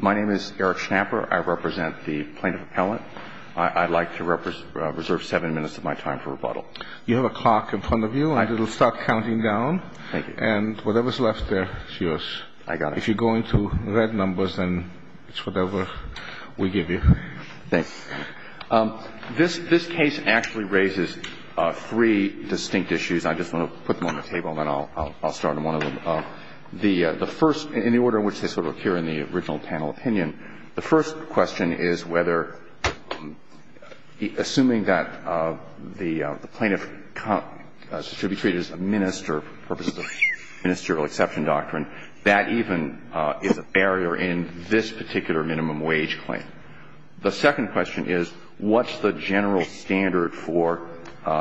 My name is Eric Schnapper. I represent the Plaintiff Appellant. I'd like to reserve seven minutes of my time for rebuttal. You have a clock in front of you. It'll start counting down. Thank you. And whatever's left there is yours. I got it. If you go into red numbers, then it's whatever we give you. Thanks. This case actually raises three distinct issues. I just want to put them on the table, and then I'll start on one of them. The first, in the order in which they sort of appear in the original panel opinion, the first question is whether, assuming that the plaintiff should be treated as a minister for the purposes of the ministerial exception doctrine, that even is a barrier in this particular minimum wage claim. The second question is what's the general standard for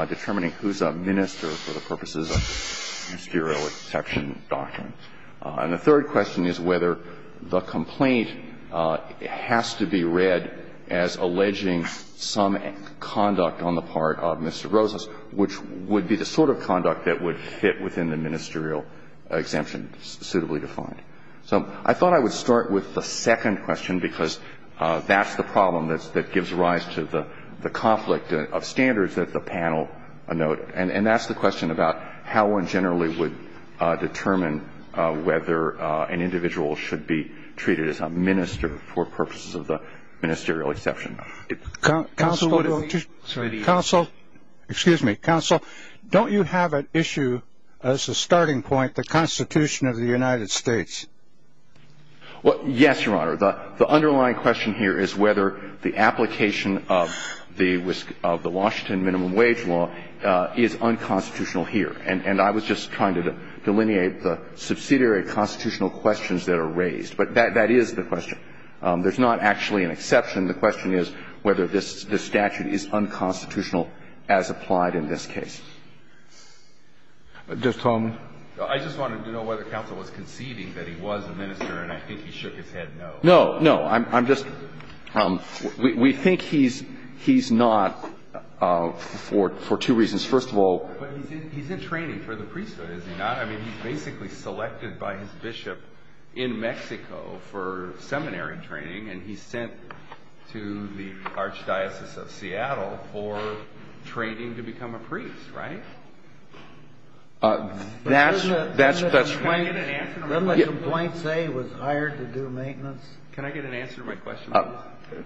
determining who's a minister for the purposes of the ministerial exception doctrine. And the third question is whether the complaint has to be read as alleging some conduct on the part of Mr. Rosas, which would be the sort of conduct that would fit within the ministerial exemption, suitably defined. So I thought I would start with the second question, because that's the problem that gives rise to the conflict of standards that the panel a note. And that's the question about how one generally would determine whether an individual should be treated as a minister for purposes of the ministerial exception. Counsel, excuse me. Counsel, don't you have at issue as a starting point the Constitution of the United States? Well, yes, Your Honor. The underlying question here is whether the application of the Washington minimum wage law is unconstitutional here. And I was just trying to delineate the subsidiary constitutional questions that are raised. But that is the question. There's not actually an exception. The question is whether this statute is unconstitutional as applied in this case. Just tell me. I just wanted to know whether counsel was conceding that he was a minister, and I think he shook his head no. No. No. I'm just we think he's not for two reasons. First of all, he's in training for the priesthood, is he not? I mean, he's basically selected by his bishop in Mexico for seminary training. And he's sent to the Archdiocese of Seattle for training to become a priest, right? That's the point. Can I get an answer to my question? Doesn't the complaint say he was hired to do maintenance? Can I get an answer to my question, please?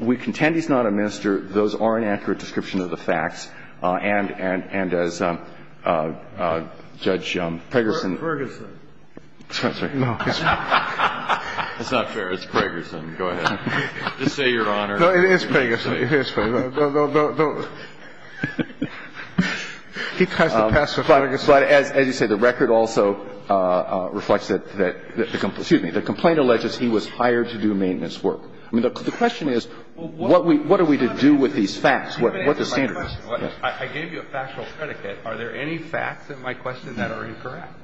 We contend he's not a minister. Those are an accurate description of the facts. And as Judge Pegersen. It's not fair. It's Pegersen. Go ahead. Just say Your Honor. No, it is Pegersen. It is Pegersen. No, no, no, no. He tries to pass the flag. But as you say, the record also reflects that the complaint alleges he was hired to do maintenance work. I mean, the question is what are we to do with these facts? What are the standards? I gave you a factual predicate. Are there any facts in my question that are incorrect?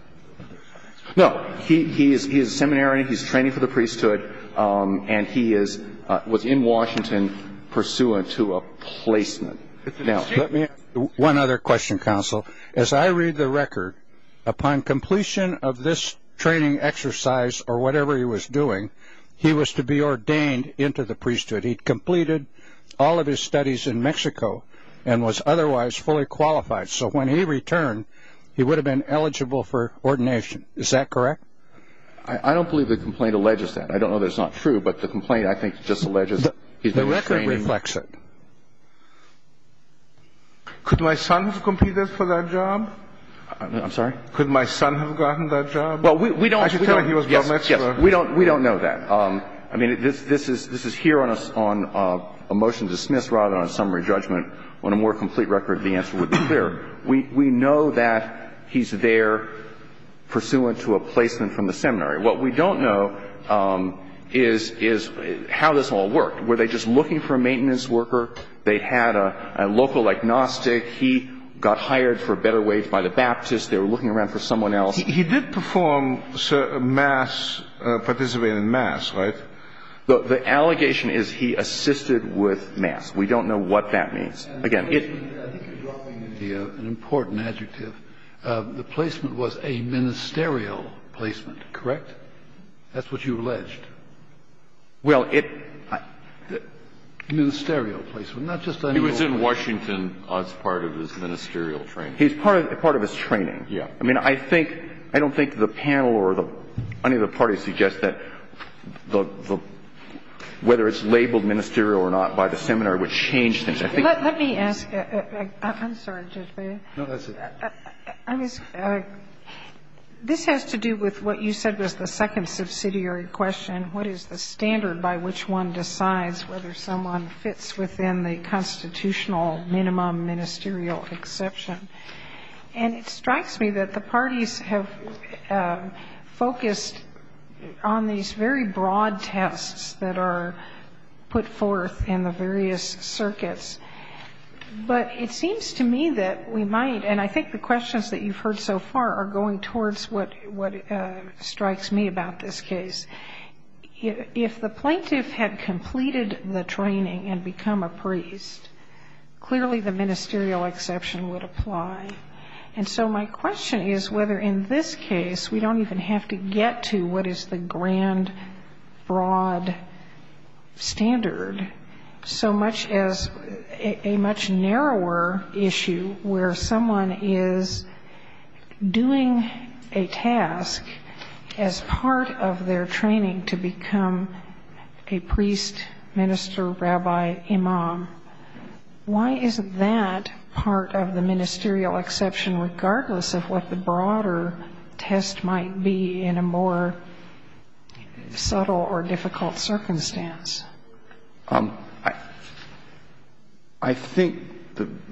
No. He is seminary. He's training for the priesthood. And he was in Washington pursuant to a placement. Now, let me ask one other question, counsel. As I read the record, upon completion of this training exercise or whatever he was doing, he was to be ordained into the priesthood. But he completed all of his studies in Mexico and was otherwise fully qualified. So when he returned, he would have been eligible for ordination. Is that correct? I don't believe the complaint alleges that. I don't know that it's not true. But the complaint, I think, just alleges he's been training. The record reflects it. Could my son have completed for that job? I'm sorry? Could my son have gotten that job? Well, we don't know. We don't know that. I mean, this is here on a motion to dismiss rather than a summary judgment. On a more complete record, the answer would be clear. We know that he's there pursuant to a placement from the seminary. What we don't know is how this all worked. Were they just looking for a maintenance worker? They had a local agnostic. He got hired for a better wage by the Baptist. They were looking around for someone else. He did perform mass, participate in mass, right? The allegation is he assisted with mass. We don't know what that means. Again, it's an important adjective. The placement was a ministerial placement, correct? That's what you alleged. Well, it. Ministerial placement. He was in Washington as part of his ministerial training. He was part of his training. Yes. I mean, I don't think the panel or any of the parties suggest that whether it's labeled ministerial or not by the seminary would change things. Let me ask. I'm sorry, Judge Bailey. No, that's okay. This has to do with what you said was the second subsidiary question. What is the standard by which one decides whether someone fits within the constitutional minimum ministerial exception? And it strikes me that the parties have focused on these very broad tests that are put forth in the various circuits. But it seems to me that we might, and I think the questions that you've heard so far are going towards what strikes me about this case. If the plaintiff had completed the training and become a priest, clearly the ministerial exception would apply. And so my question is whether in this case we don't even have to get to what is the grand, broad standard, so much as a much narrower issue where someone is doing a task as part of their training to become a priest, minister, rabbi, imam. Why is that part of the ministerial exception regardless of what the broader test might be in a more subtle or difficult circumstance? I think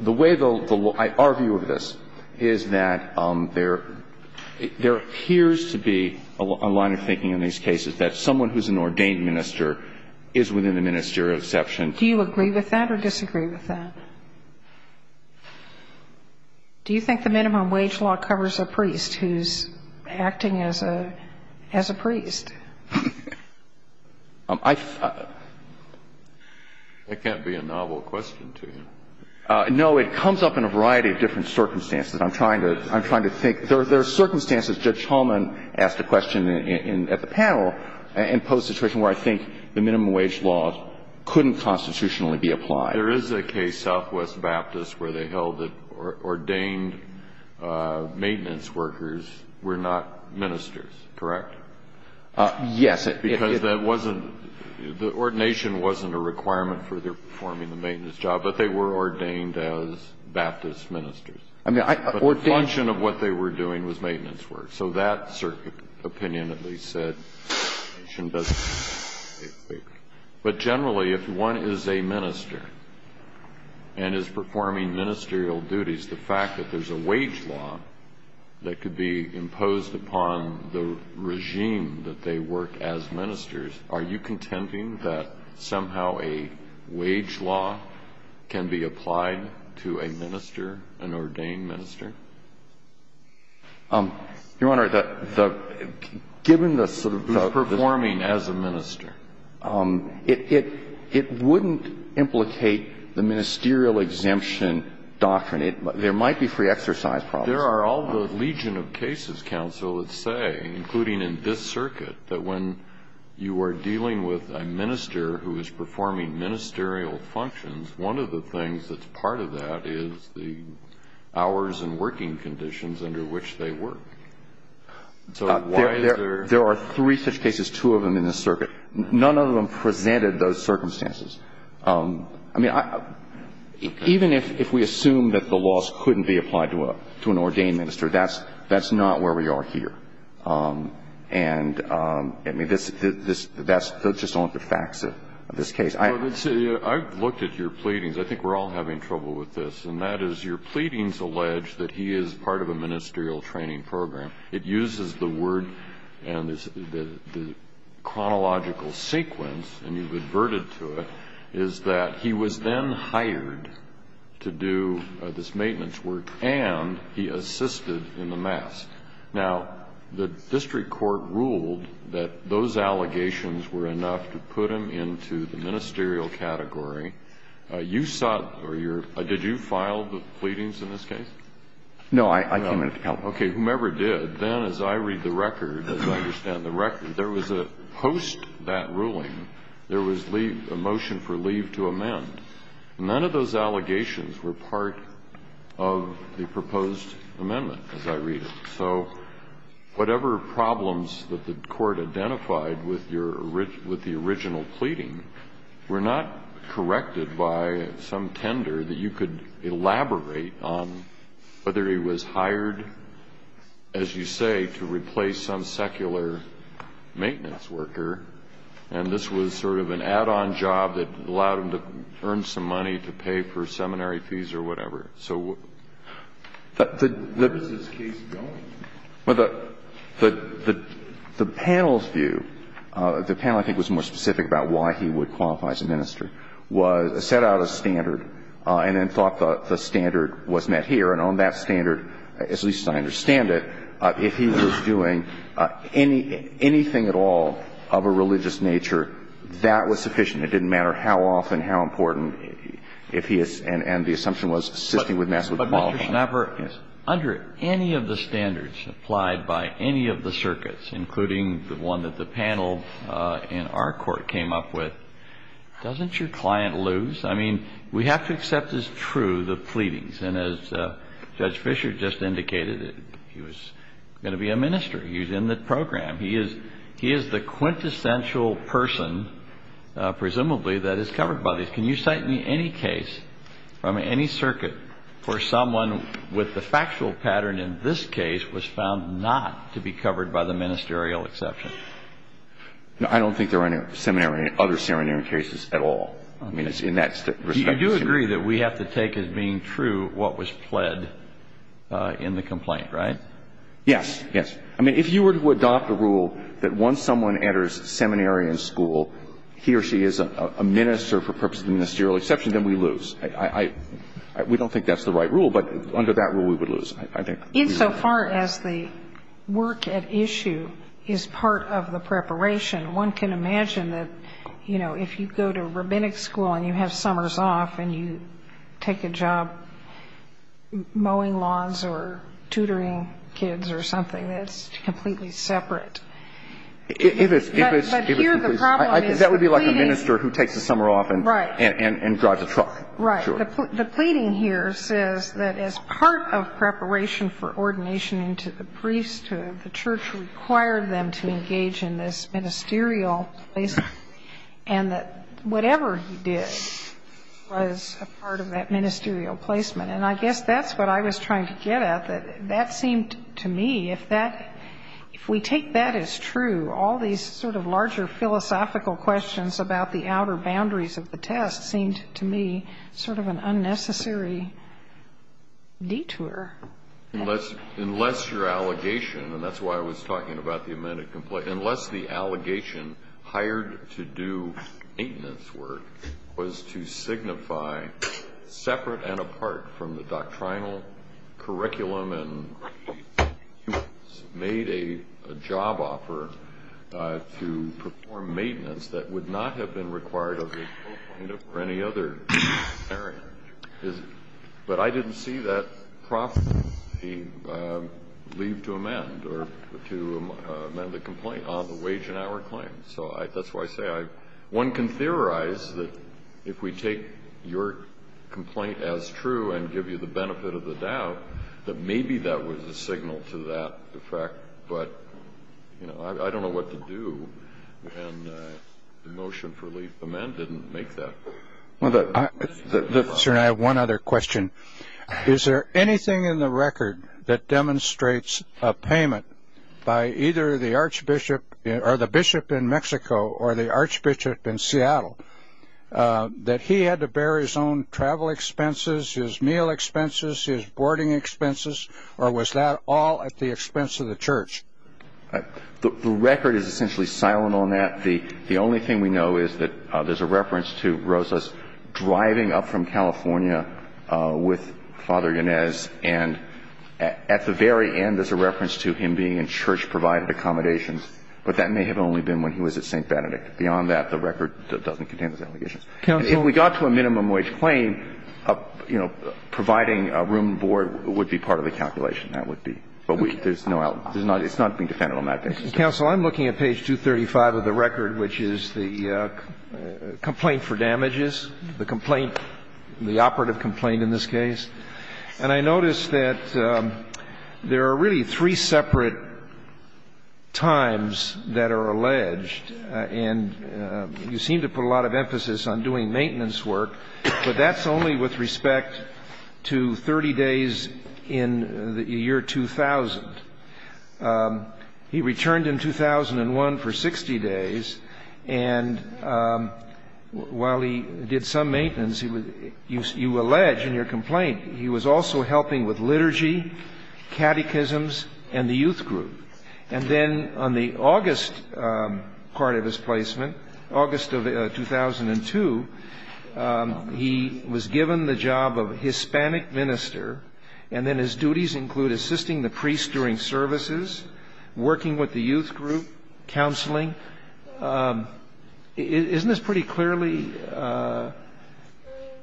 the way the law, our view of this is that there appears to be a line of thinking in these cases that someone who's an ordained minister is within the ministerial exception. Do you agree with that or disagree with that? Do you think the minimum wage law covers a priest who's acting as a priest? That can't be a novel question to you. No, it comes up in a variety of different circumstances. I'm trying to think. There are circumstances, Judge Hulman asked a question at the panel, and posed a situation where I think the minimum wage law couldn't constitutionally be applied. There is a case, Southwest Baptist, where they held that ordained maintenance workers were not ministers, correct? Yes. Because that wasn't, the ordination wasn't a requirement for their performing the maintenance job, but they were ordained as Baptist ministers. But the function of what they were doing was maintenance work. So that opinion at least said the ordination doesn't cover a priest. But generally, if one is a minister and is performing ministerial duties, the fact that there's a wage law that could be imposed upon the regime that they work as ministers, are you contending that somehow a wage law can be applied to a minister, an ordained minister? Your Honor, the – given the sort of the – Who's performing as a minister. It wouldn't implicate the ministerial exemption doctrine. There might be free exercise problems. There are all the legion of cases, counsel, that say, including in this circuit, that when you are dealing with a minister who is performing ministerial functions, one of the things that's part of that is the hours and working conditions under which they work. So why is there – There are three such cases, two of them in this circuit. None of them presented those circumstances. I mean, even if we assume that the laws couldn't be applied to an ordained minister, that's not where we are here. And, I mean, that's just not the facts of this case. I've looked at your pleadings. I think we're all having trouble with this. And that is your pleadings allege that he is part of a ministerial training program. It uses the word and the chronological sequence, and you've adverted to it, is that he was then hired to do this maintenance work and he assisted in the mass. Now, the district court ruled that those allegations were enough to put him into the ministerial category. You sought or your – did you file the pleadings in this case? No. I came in to help. Okay. Whomever did, then, as I read the record, as I understand the record, there was a – post that ruling, there was a motion for leave to amend. None of those allegations were part of the proposed amendment, as I read it. So whatever problems that the court identified with your – with the original pleading were not corrected by some tender that you could elaborate on whether he was hired, as you say, to replace some secular maintenance worker. And this was sort of an add-on job that allowed him to earn some money to pay for seminary fees or whatever. So where was this case going? Well, the panel's view – the panel, I think, was more specific about why he would qualify as a minister – was – set out a standard and then thought the standard was met here. And on that standard, as least I understand it, if he was doing anything at all of a religious nature, that was sufficient. It didn't matter how often, how important, if he – and the assumption was assisting with mass would qualify. But Mr. Schnapper, under any of the standards applied by any of the circuits, including the one that the panel in our court came up with, doesn't your client lose? I mean, we have to accept as true the pleadings. And as Judge Fischer just indicated, he was going to be a minister. He was in the program. He is – he is the quintessential person, presumably, that is covered by these. Can you cite me any case from any circuit where someone with the factual pattern in this case was found not to be covered by the ministerial exception? No, I don't think there are any seminary – other seminary cases at all. I mean, it's in that – You do agree that we have to take as being true what was pled in the complaint, right? Yes, yes. I mean, if you were to adopt a rule that once someone enters seminary and school, he or she is a minister for purposes of ministerial exception, then we lose. I – we don't think that's the right rule, but under that rule, we would lose. I think we would lose. Insofar as the work at issue is part of the preparation, one can imagine that, you know, if you go to rabbinic school and you have summers off and you take a job mowing lawns or tutoring kids or something, that's completely separate. If it's – if it's – But here the problem is pleading – That would be like a minister who takes a summer off and – Right. And drives a truck. Right. Sure. The pleading here says that as part of preparation for ordination into the priesthood, the church required them to engage in this ministerial placement, and that whatever he did was a part of that ministerial placement. And I guess that's what I was trying to get at, that that seemed to me, if that – if we take that as true, all these sort of larger philosophical questions about the outer boundaries of the test seemed to me sort of an unnecessary detour. Unless your allegation – and that's why I was talking about the amended complaint – unless the allegation hired to do maintenance work was to signify separate and apart from the doctrinal curriculum and made a job offer to perform maintenance that would not have been required of the pope or any other area. But I didn't see that prophecy leave to amend or to amend the complaint on the wage and hour claim. So that's why I say I – one can theorize that if we take your complaint as true and give you the benefit of the doubt, that maybe that was a signal to that effect. But, you know, I don't know what to do. And the motion for leave to amend didn't make that. Sir, I have one other question. Is there anything in the record that demonstrates a payment by either the archbishop – or the bishop in Mexico or the archbishop in Seattle that he had to bear his own travel expenses, his meal expenses, his boarding expenses, or was that all at the expense of the church? The record is essentially silent on that. The only thing we know is that there's a reference to Rosa's driving up from California with Father Yanez. And at the very end, there's a reference to him being in church-provided accommodations. But that may have only been when he was at St. Benedict. Beyond that, the record doesn't contain those allegations. And if we got to a minimum wage claim, you know, providing a room and board would be part of the calculation, that would be. But there's no – it's not being defended on that basis. Counsel, I'm looking at page 235 of the record, which is the complaint for damages, the complaint – the operative complaint in this case. And I notice that there are really three separate times that are alleged. And you seem to put a lot of emphasis on doing maintenance work, but that's only with respect to 30 days in the year 2000. He returned in 2001 for 60 days. And while he did some maintenance, you allege in your complaint, he was also helping with liturgy, catechisms, and the youth group. And then on the August part of his placement, August of 2002, he was given the job of Hispanic minister, and then his duties include assisting the priests during services, working with the youth group, counseling. Isn't this pretty clearly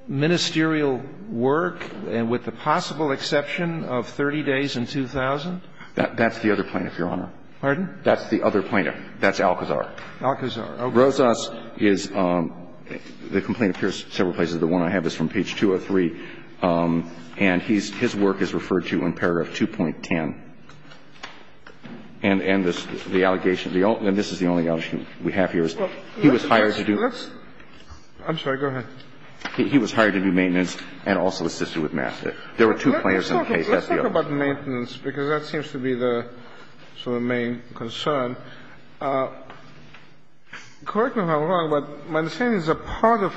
ministerial work, and with the possible exception of 30 days in 2000? That's the other plaintiff, Your Honor. Pardon? That's the other plaintiff. That's Alcazar. Alcazar, okay. Rosas is – the complaint appears several places. The one I have is from page 203. And his work is referred to in paragraph 2.10. And this is the only allegation we have here. He was hired to do – I'm sorry. Go ahead. He was hired to do maintenance and also assisted with math. There were two plaintiffs in the case. Let's talk about maintenance, because that seems to be the sort of main concern. Correct me if I'm wrong, but my understanding is a part of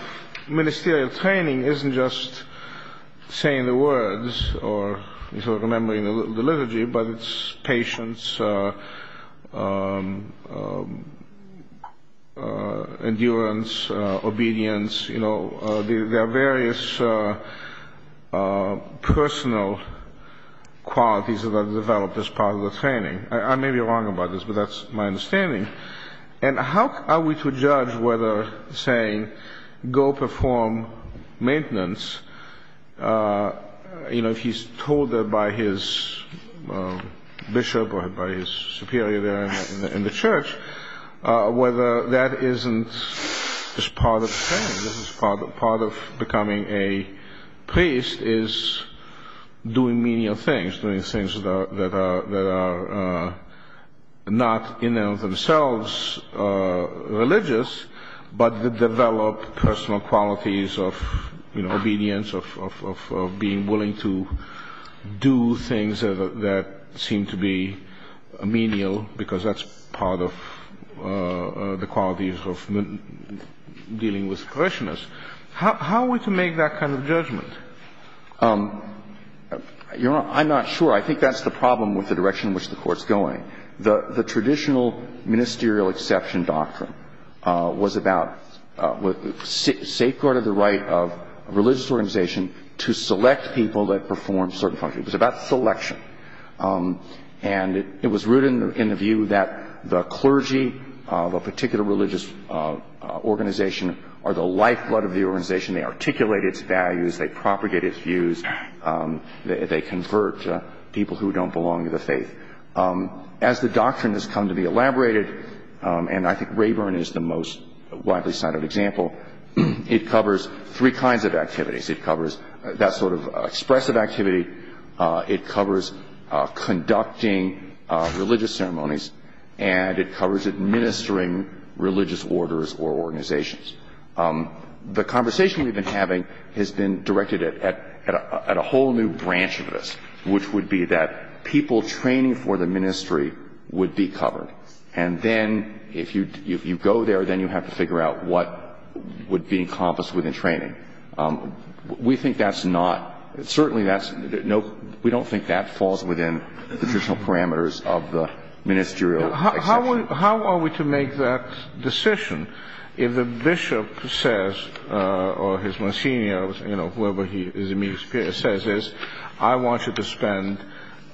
ministerial training isn't just saying the words or remembering the liturgy, but it's patience, endurance, obedience. You know, there are various personal qualities that are developed as part of the training. I may be wrong about this, but that's my understanding. And how are we to judge whether saying go perform maintenance, you know, if he's told by his bishop or by his superior there in the church, whether that isn't just part of the training. This is part of becoming a priest is doing menial things, doing things that are not in and of themselves religious, but develop personal qualities of, you know, obedience, of being willing to do things that seem to be menial, because that's part of the qualities of dealing with parishioners. I'm not sure. I think that's the problem with the direction in which the Court's going. The traditional ministerial exception doctrine was about safeguarding the right of a religious organization to select people that perform certain functions. It was about selection. And it was rooted in the view that the clergy of a particular religious organization are the lifeblood of the organization. They articulate its values. They propagate its views. They convert people who don't belong to the faith. As the doctrine has come to be elaborated, and I think Rayburn is the most widely cited example, it covers three kinds of activities. It covers that sort of expressive activity. It covers conducting religious ceremonies. And it covers administering religious orders or organizations. The conversation we've been having has been directed at a whole new branch of this, which would be that people training for the ministry would be covered. And then if you go there, then you have to figure out what would be encompassed within training. We think that's not ñ certainly that's ñ no, we don't think that falls within the traditional parameters of the ministerial exception. How are we to make that decision? If the bishop says, or his monsignor, whoever he is, says, I want you to spend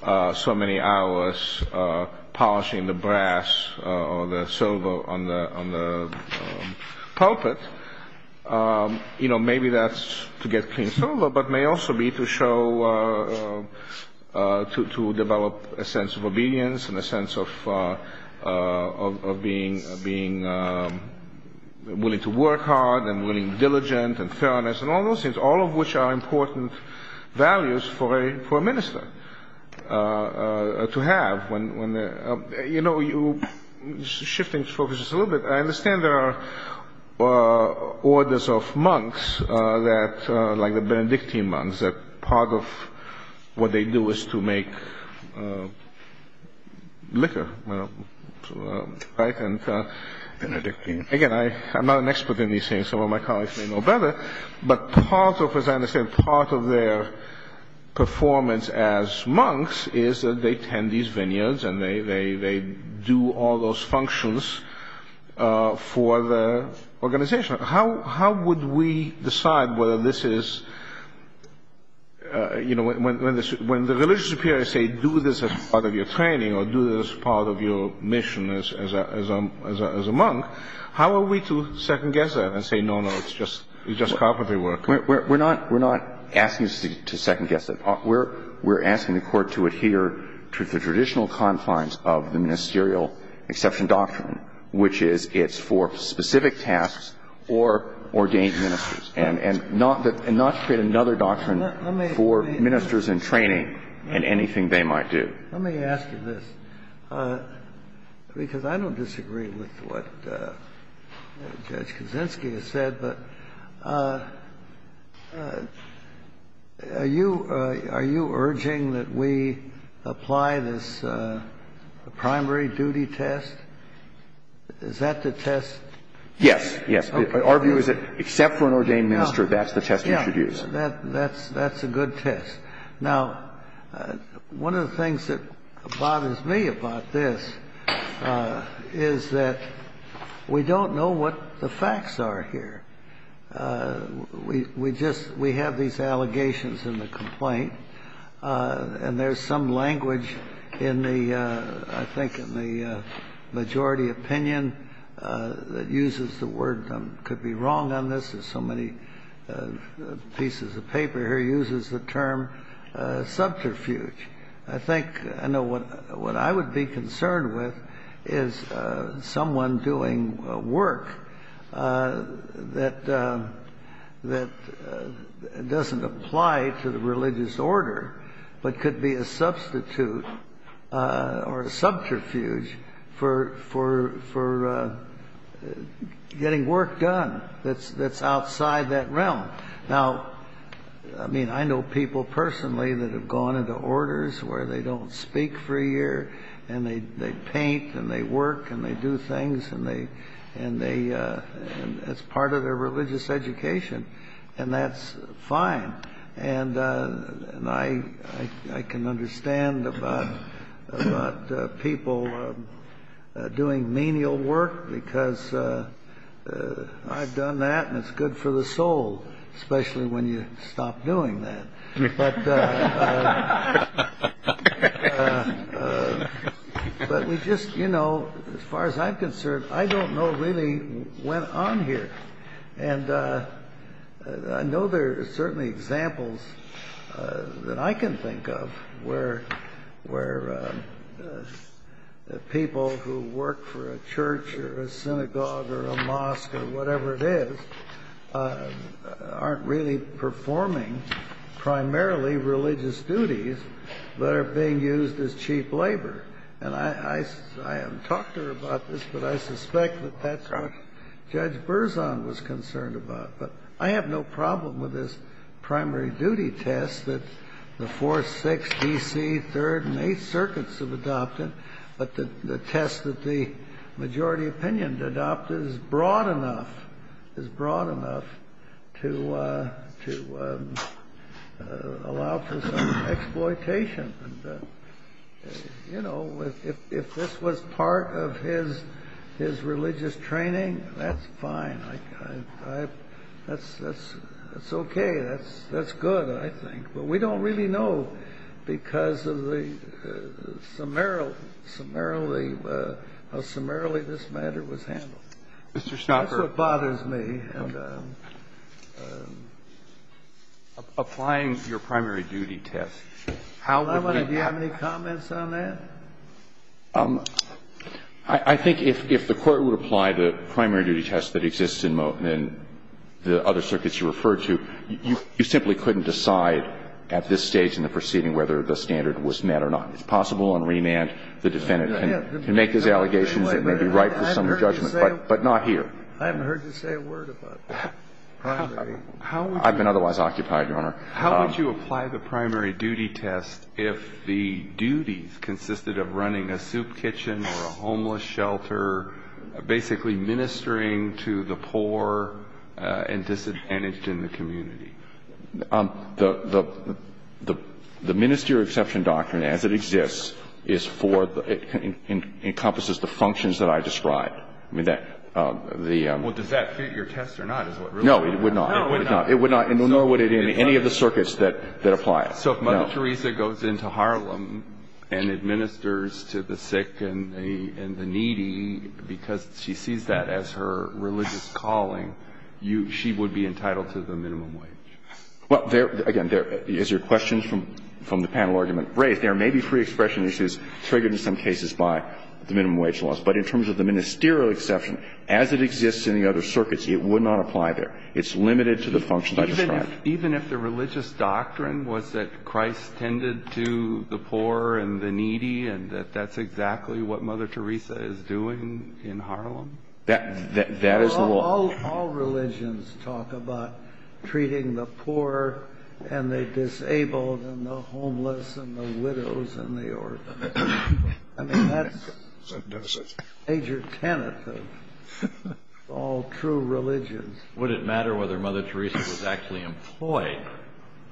so many hours polishing the brass or the silver on the pulpit, maybe that's to get clean silver, but may also be to show ñ to develop a sense of obedience and a sense of being willing to work hard and willing and diligent and fairness, and all those things, all of which are important values for a minister to have. You know, you're shifting focus a little bit. I understand there are orders of monks, like the Benedictine monks, that part of what they do is to make liquor, right? Benedictine. Again, I'm not an expert in these things, some of my colleagues may know better, but part of, as I understand, part of their performance as monks is that they tend these vineyards and they do all those functions for the organization. How would we decide whether this is ñ when the religious superior say, do this as part of your training or do this as part of your mission as a monk, how are we to second-guess that and say, no, no, it's just carpentry work? We're not asking to second-guess it. We're asking the Court to adhere to the traditional confines of the ministerial exception doctrine, which is it's for specific tasks or ordained ministers, and not to create another doctrine for ministers in training in anything they might do. Let me ask you this, because I don't disagree with what Judge Kaczynski has said, but are you ñ are you urging that we apply this primary duty test? Is that the test? Yes. Yes. Our view is that except for an ordained minister, that's the test we should use. Yeah. That's a good test. Now, one of the things that bothers me about this is that we don't know what the facts are here. We just ñ we have these allegations in the complaint, and there's some language in the ñ I think in the majority opinion that uses the word could be wrong on this. There's so many pieces of paper here uses the term subterfuge. I think ñ I know what I would be concerned with is someone doing work that doesn't apply to the religious order, but could be a substitute or a subterfuge for getting work done that's outside that realm. Now, I mean, I know people personally that have gone into orders where they don't speak for a year, and they paint and they work and they do things, and they ñ as part of their religious education, and that's fine. And I can understand about people doing menial work, because I've done that and it's good for the soul, especially when you stop doing that. But we just ñ you know, as far as I'm concerned, I don't know really what went on here. And I know there are certainly examples that I can think of where people who work for a church or a synagogue or a mosque or whatever it is aren't really performing primarily religious duties that are being used as cheap labor. And I haven't talked to her about this, but I suspect that that's what Judge Berzon was concerned about. But I have no problem with this primary duty test that the Fourth, Sixth, D.C., Third and Eighth Circuits have adopted, but the test that the majority opinion adopted is broad enough to allow for some exploitation. And, you know, if this was part of his religious training, that's fine. That's okay. That's good, I think. But we don't really know because of the ñ how summarily this matter was handled. That's what bothers me. And ñ Applying your primary duty test, how would we ñ How about if you have any comments on that? I think if the Court would apply the primary duty test that exists in the other circuits that you referred to, you simply couldn't decide at this stage in the proceeding whether the standard was met or not. It's possible on remand the defendant can make these allegations that may be right for some judgment, but not here. I haven't heard you say a word about primary. I've been otherwise occupied, Your Honor. How would you apply the primary duty test if the duties consisted of running a soup The ministry of exception doctrine as it exists is for ñ encompasses the functions that I described. I mean, the ñ Well, does that fit your test or not is what really ñ No, it would not. No, it would not. It would not, nor would any of the circuits that apply it. No. So if Mother Teresa goes into Harlem and administers to the sick and the needy because she sees that as her religious calling, you ñ she would be entitled to the minimum wage? Well, there ñ again, there ñ as your question from the panel argument raised, there may be free expression issues triggered in some cases by the minimum wage laws. But in terms of the ministerial exception, as it exists in the other circuits, it would not apply there. It's limited to the functions I described. Even if the religious doctrine was that Christ tended to the poor and the needy and that that's exactly what Mother Teresa is doing in Harlem? That is the law. All religions talk about treating the poor and the disabled and the homeless and the widows and the orphans. I mean, that's a major tenet of all true religions. Would it matter whether Mother Teresa was actually employed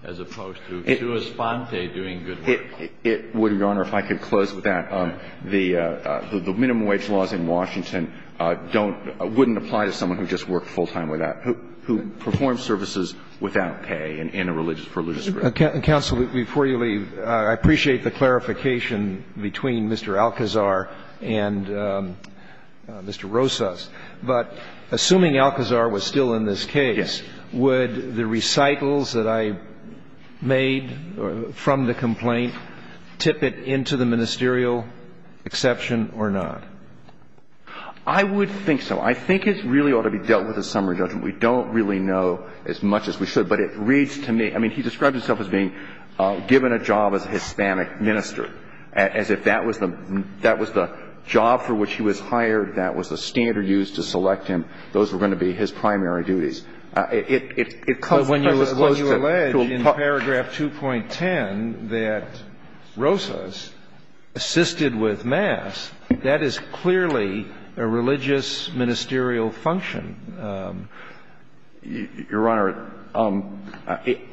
as opposed to Sue Esponte doing good work? It wouldn't, Your Honor. If I could close with that. The minimum wage laws in Washington don't ñ wouldn't apply to someone who just worked full-time with that, who performs services without pay in a religious ñ religious group. Counsel, before you leave, I appreciate the clarification between Mr. Alcazar and Mr. Rosas. But assuming Alcazar was still in this case, would the recitals that I made from the complaint tip it into the ministerial exception or not? I would think so. I think it really ought to be dealt with a summary judgment. We don't really know as much as we should. But it reads to me ñ I mean, he describes himself as being given a job as a Hispanic minister, as if that was the ñ that was the job for which he was hired, that was the standard used to select him. Those were going to be his primary duties. But when you allege in paragraph 2.10 that Rosas assisted with mass, that is clearly a religious ministerial function. Your Honor,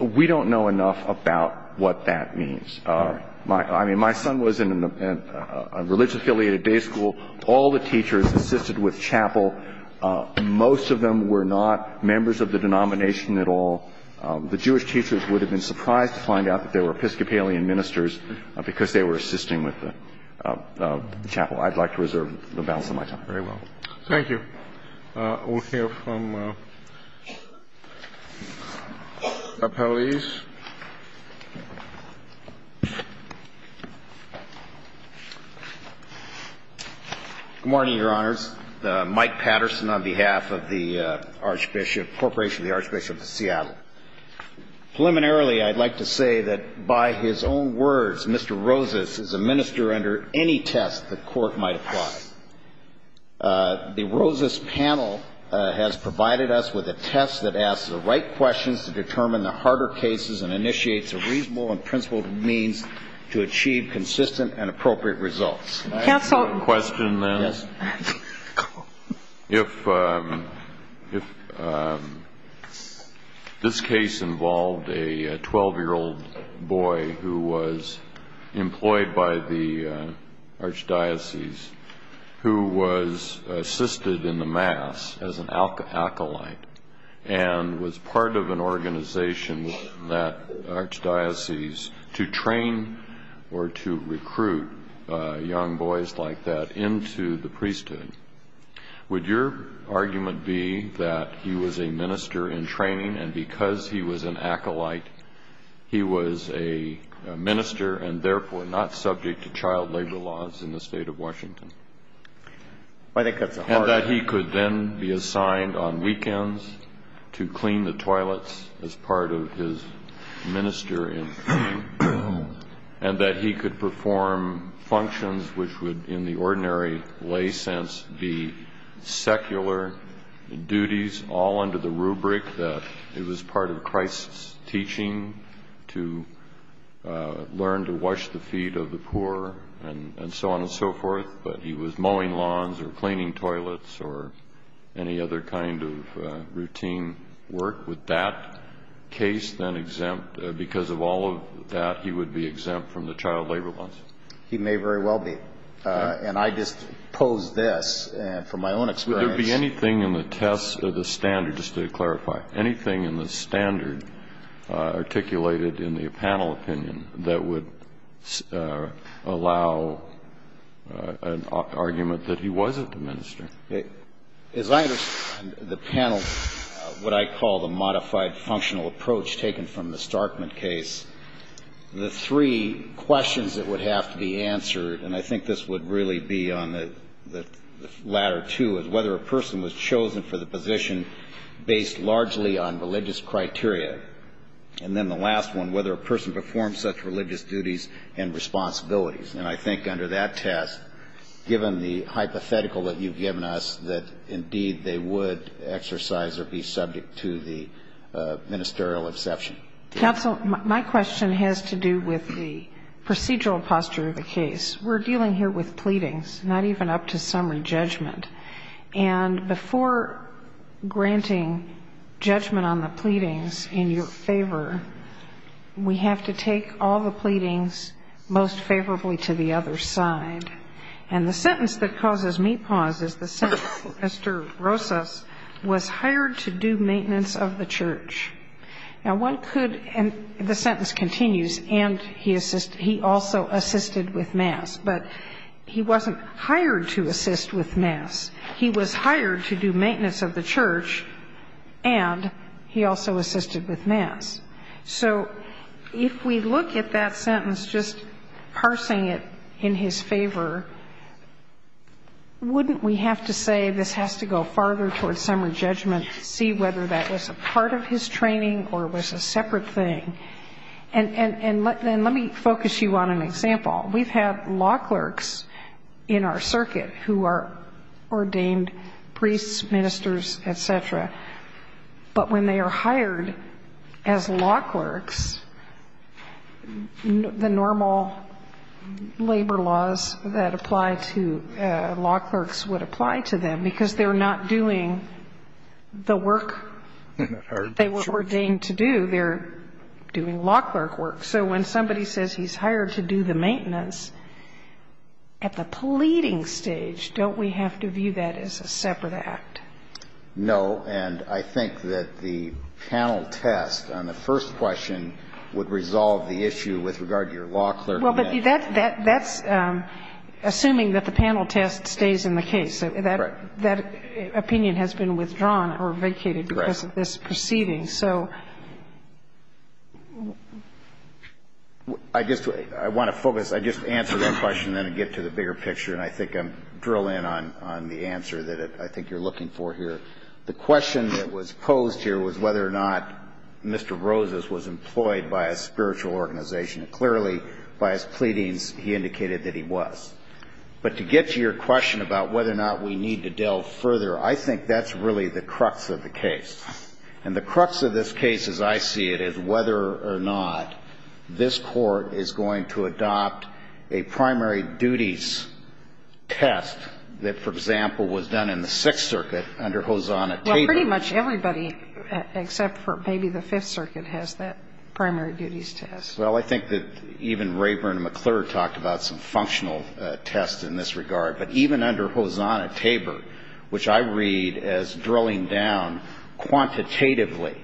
we don't know enough about what that means. I mean, my son was in a religious-affiliated day school. All the teachers assisted with chapel. Most of them were not members of the denomination at all. The Jewish teachers would have been surprised to find out that they were Episcopalian ministers because they were assisting with the chapel. I'd like to reserve the balance of my time. Very well. Thank you. We'll hear from Appellees. Good morning, Your Honors. Mike Patterson on behalf of the Archbishop ñ Corporation of the Archbishop of Seattle. Preliminarily, I'd like to say that by his own words, Mr. Rosas is a minister under any test the Court might apply. The Rosas panel has provided us with a test that asks the right questions to determine the harder cases and initiates a reasonable and principled means to achieve consistent and appropriate results. If this case involved a 12-year-old boy who was employed by the Archdiocese, who was assisted in the Mass as an acolyte and was part of an organization that the Archdiocese, to train or to recruit young boys like that into the priesthood, would your argument be that he was a minister in training and because he was an acolyte, he was a minister and therefore not subject to child labor laws in the State of Washington? I think that's a hardÖ And that he could then be assigned on weekends to clean the toilets as part of his minister in training and that he could perform functions which would, in the ordinary lay sense, be secular duties all under the rubric that it was part of Christ's teaching to learn to wash the feet of the poor and so on and so forth, but he was mowing lawns or cleaning he would be exempt from the child labor laws? He may very well be. And I just pose this from my own experience. Would there be anything in the test or the standard, just to clarify, anything in the standard articulated in the panel opinion that would allow an argument that he wasn't a minister? As I understand the panel, what I call the modified functional approach taken from the Starkman case, the three questions that would have to be answered, and I think this would really be on the latter two, is whether a person was chosen for the position based largely on religious criteria. And then the last one, whether a person performs such religious duties and responsibilities. And I think under that test, given the hypothetical that you've given us, that indeed they would exercise or be subject to the ministerial exception. Counsel, my question has to do with the procedural posture of the case. We're dealing here with pleadings, not even up to summary judgment. And before granting judgment on the pleadings in your favor, we have to take all the pleadings most favorably to the other side. And the sentence that causes me pause is the sentence, Mr. Rosas was hired to do maintenance of the church. Now, one could, and the sentence continues, and he also assisted with mass. But he wasn't hired to assist with mass. He was hired to do maintenance of the church, and he also assisted with mass. So if we look at that sentence, just parsing it in his favor, wouldn't we have to say, this has to go farther towards summary judgment to see whether that was a part of his training or was a separate thing? And let me focus you on an example. We've had law clerks in our circuit who are ordained priests, ministers, et cetera. But when they are hired as law clerks, the normal labor laws that apply to law clerks would apply to them, because they're not doing the work they were ordained to do. They're doing law clerk work. So when somebody says he's hired to do the maintenance at the pleading stage, don't we have to view that as a separate act? No. And I think that the panel test on the first question would resolve the issue with regard to your law clerk. Well, but that's assuming that the panel test stays in the case. Right. That opinion has been withdrawn or vacated because of this proceeding. Right. So I just want to focus. I just answer that question and then get to the bigger picture, and I think I'm drilling in on the answer that I think you're looking for here. The question that was posed here was whether or not Mr. Roses was employed by a spiritual organization. Clearly, by his pleadings, he indicated that he was. But to get to your question about whether or not we need to delve further, I think that's really the crux of the case. And the crux of this case, as I see it, is whether or not this Court is going to adopt a primary duties test that, for example, was done in the Sixth Circuit under Hosanna-Tabor. Well, pretty much everybody except for maybe the Fifth Circuit has that primary duties test. Well, I think that even Rayburn and McClure talked about some functional tests in this regard. But even under Hosanna-Tabor, which I read as drilling down quantitatively,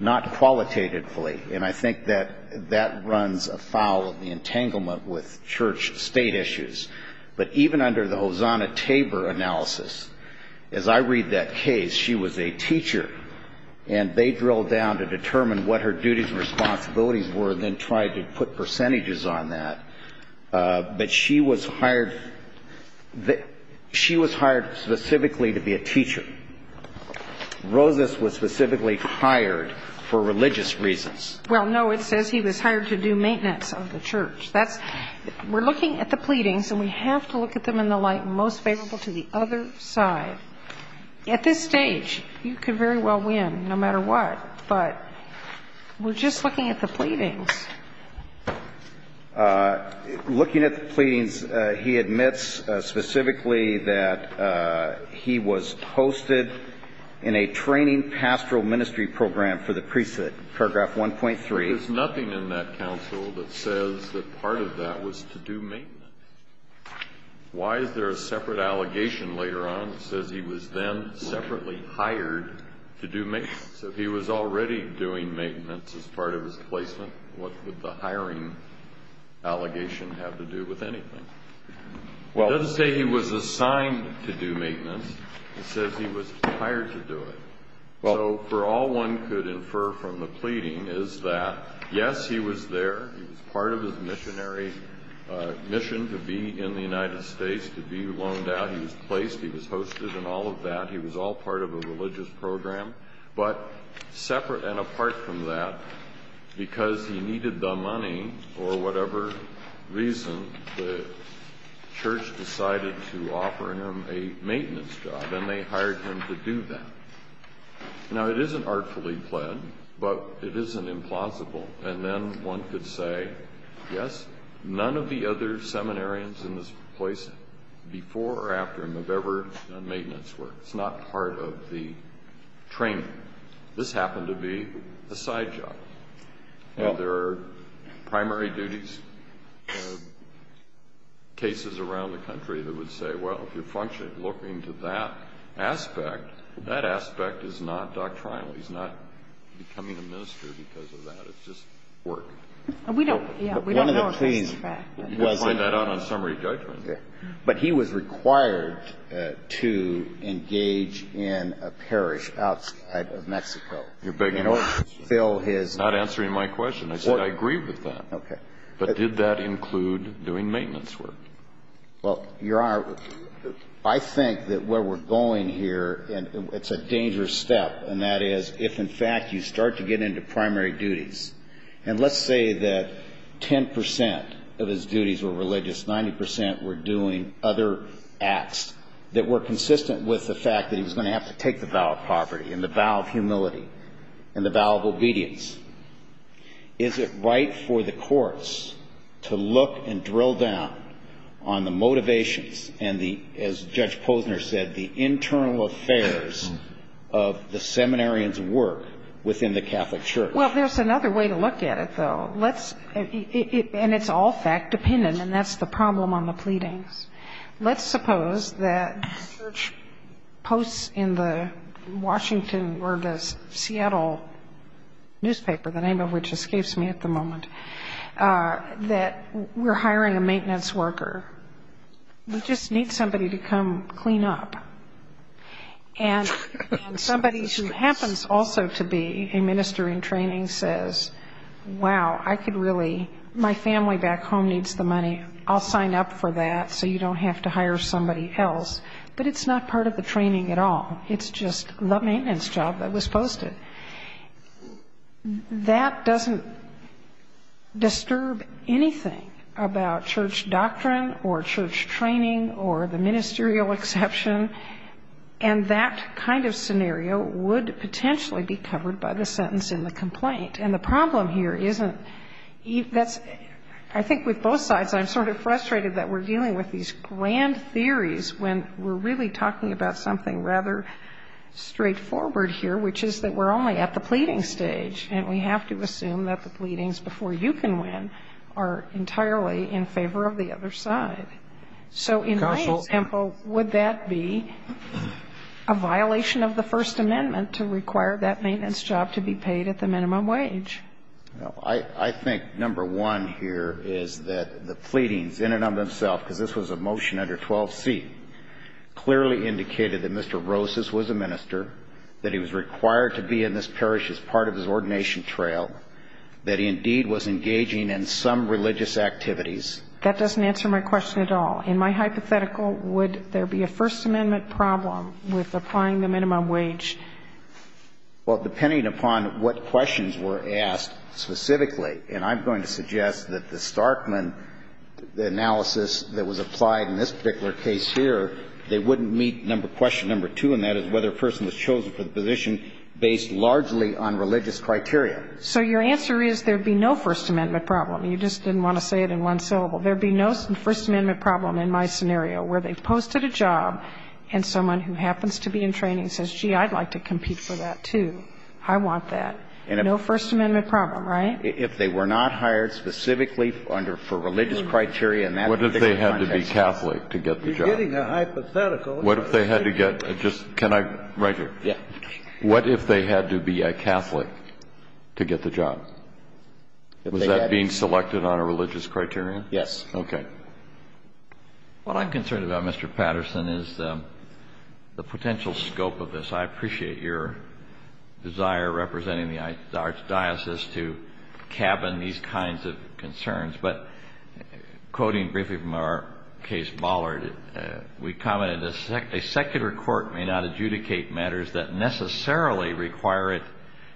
not qualitatively, and I think that that runs afoul of the entanglement with the Church-State issues, but even under the Hosanna-Tabor analysis, as I read that case, she was a teacher, and they drilled down to determine what her duties and responsibilities were and then tried to put percentages on that. But she was hired specifically to be a teacher. Roses was specifically hired for religious reasons. Well, no, it says he was hired to do maintenance of the church. That's – we're looking at the pleadings, and we have to look at them in the light most favorable to the other side. At this stage, you could very well win, no matter what, but we're just looking at the pleadings. Looking at the pleadings, he admits specifically that he was hosted in a training pastoral ministry program for the priesthood, paragraph 1.3. There is nothing in that counsel that says that part of that was to do maintenance. Why is there a separate allegation later on that says he was then separately hired to do maintenance? If he was already doing maintenance as part of his placement, what would the hiring allegation have to do with anything? It doesn't say he was assigned to do maintenance. It says he was hired to do it. So for all one could infer from the pleading is that, yes, he was there. He was part of his missionary mission to be in the United States, to be loaned out. He was placed. He was hosted and all of that. He was all part of a religious program. But separate and apart from that, because he needed the money or whatever reason, the church decided to offer him a maintenance job, and they hired him to do that. Now, it isn't artfully pled, but it isn't implausible. And then one could say, yes, none of the other seminarians in this place, before or after him, have ever done maintenance work. It's not part of the training. This happened to be a side job. There are primary duties cases around the country that would say, well, if you're looking to that aspect, that aspect is not doctrinal. He's not becoming a minister because of that. It's just work. We don't know if that's a fact. You can find that out on summary judgment. But he was required to engage in a parish outside of Mexico. You're not answering my question. I said I agree with that. Okay. But did that include doing maintenance work? Well, Your Honor, I think that where we're going here, it's a dangerous step, and that is if, in fact, you start to get into primary duties, and let's say that 10 percent of his duties were religious, 90 percent were doing other acts that were consistent with the fact that he was going to have to take the vow of poverty and the vow of humility and the vow of obedience, is it right for the courts to look and drill down on the motivations and the, as Judge Posner said, the internal affairs of the seminarian's work within the Catholic Church? Well, there's another way to look at it, though, and it's all fact-dependent, and that's the problem on the pleadings. Let's suppose that church posts in the Washington or the Seattle newspaper, the name of which escapes me at the moment, that we're hiring a maintenance worker. We just need somebody to come clean up. And somebody who happens also to be a minister in training says, wow, I could really, my family back home needs the money. I'll sign up for that so you don't have to hire somebody else. But it's not part of the training at all. It's just the maintenance job that was posted. That doesn't disturb anything about church doctrine or church training or the ministerial exception, and that kind of scenario would potentially be covered by the sentence in the complaint. And the problem here isn't, that's, I think with both sides, I'm sort of frustrated that we're dealing with these grand theories when we're really talking about something rather straightforward here, which is that we're only at the pleading stage, and we have to assume that the pleadings before you can win are entirely in favor of the other side. So in my example, would that be a violation of the First Amendment to require that maintenance job to be paid at the minimum wage? I think number one here is that the pleadings in and of themselves, because this was a motion under 12C, clearly indicated that Mr. Rosas was a minister, that he was required to be in this parish as part of his ordination trail, that he indeed was engaging in some religious activities. That doesn't answer my question at all. In my hypothetical, would there be a First Amendment problem with applying the minimum wage? Well, depending upon what questions were asked specifically, and I'm going to suggest that the Starkman analysis that was applied in this particular case here, they wouldn't meet question number two, and that is whether a person was chosen for the position based largely on religious criteria. So your answer is there would be no First Amendment problem. You just didn't want to say it in one syllable. There would be no First Amendment problem in my scenario where they posted a job and someone who happens to be in training says, gee, I'd like to compete for that too. I want that. No First Amendment problem, right? If they were not hired specifically under religious criteria in that particular context. What if they had to be Catholic to get the job? You're getting a hypothetical. What if they had to get the job? Can I? Right here. What if they had to be a Catholic to get the job? Was that being selected on a religious criterion? Yes. Okay. What I'm concerned about, Mr. Patterson, is the potential scope of this. I appreciate your desire representing the archdiocese to cabin these kinds of concerns. But quoting briefly from our case, Bollard, we commented, a secular court may not adjudicate matters that necessarily require it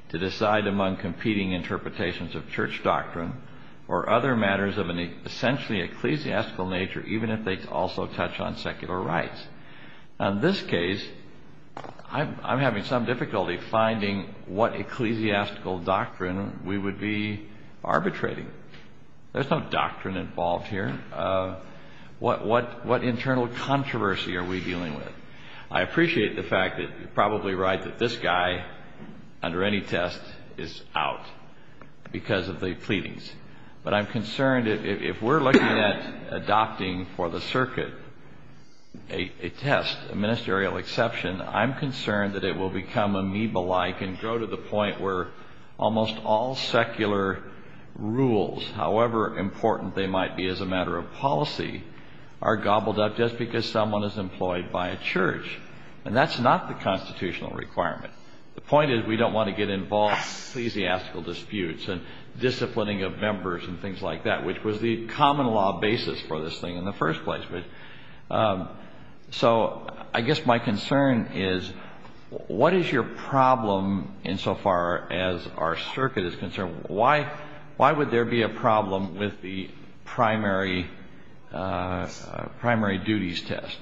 to decide among competing interpretations of church doctrine or other matters of an essentially ecclesiastical nature, even if they also touch on secular rights. In this case, I'm having some difficulty finding what ecclesiastical doctrine we would be arbitrating. There's no doctrine involved here. What internal controversy are we dealing with? I appreciate the fact that you're probably right that this guy, under any test, is out because of the pleadings. But I'm concerned if we're looking at adopting for the circuit a test, a ministerial exception, I'm concerned that it will become amoeba-like and go to the point where almost all secular rules, however important they might be as a matter of policy, are gobbled up just because someone is employed by a church. And that's not the constitutional requirement. The point is we don't want to get involved in ecclesiastical disputes and disciplining of members and things like that, which was the common law basis for this thing in the first place. So I guess my concern is, what is your problem insofar as our circuit is concerned? Why would there be a problem with the primary duties test?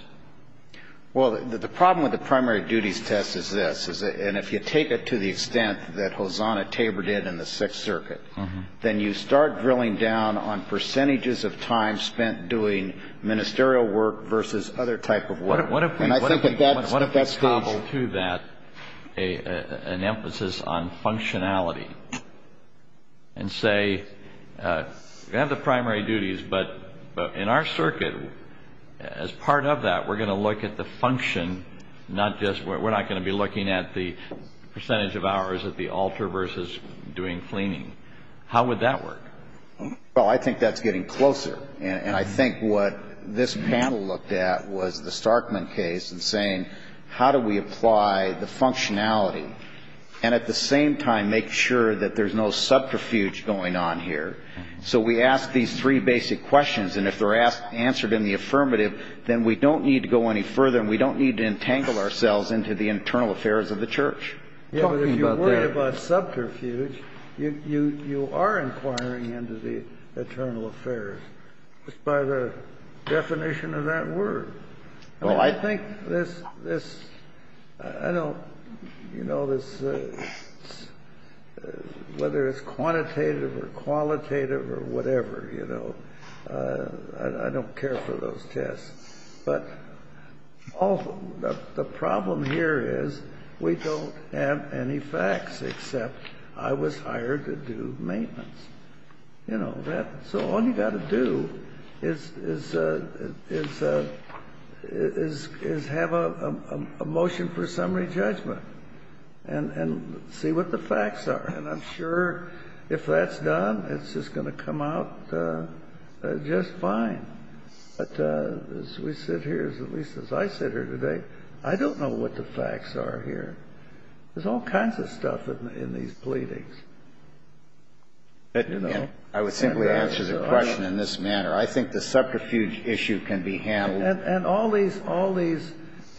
Well, the problem with the primary duties test is this. And if you take it to the extent that Hosanna tabored it in the Sixth Circuit, then you start drilling down on percentages of time spent doing ministerial work versus other type of work. What if we cobbled to that an emphasis on functionality and say we have the primary duties, but in our circuit, as part of that, we're going to look at the function, we're not going to be looking at the percentage of hours at the altar versus doing cleaning. How would that work? Well, I think that's getting closer. And I think what this panel looked at was the Starkman case and saying how do we apply the functionality and at the same time make sure that there's no subterfuge going on here. So we ask these three basic questions, and if they're answered in the affirmative, then we don't need to go any further and we don't need to entangle ourselves into the internal affairs of the church. Yeah, but if you're worried about subterfuge, you are inquiring into the internal affairs just by the definition of that word. I think this, I don't, you know, whether it's quantitative or qualitative or whatever, you know, I don't care for those tests. But the problem here is we don't have any facts except I was hired to do maintenance. You know, so all you've got to do is have a motion for summary judgment and see what the facts are. And I'm sure if that's done, it's just going to come out just fine. But as we sit here, at least as I sit here today, I don't know what the facts are here. There's all kinds of stuff in these pleadings, you know. I would simply answer the question in this manner. I think the subterfuge issue can be handled. And all these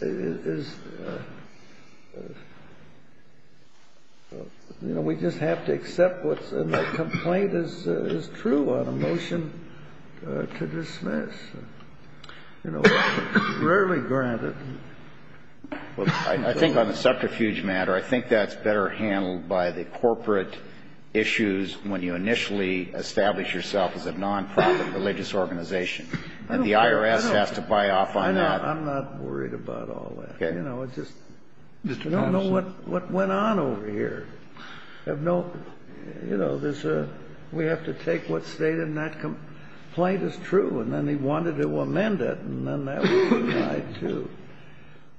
is, you know, we just have to accept what's in the complaint is true on a motion to dismiss. You know, rarely granted. Well, I think on the subterfuge matter, I think that's better handled by the corporate issues when you initially establish yourself as a nonprofit religious organization. And the IRS has to buy off on that. I'm not worried about all that. Okay. You know, I just don't know what went on over here. You know, we have to take what's stated in that complaint is true. And then they wanted to amend it, and then that was denied, too.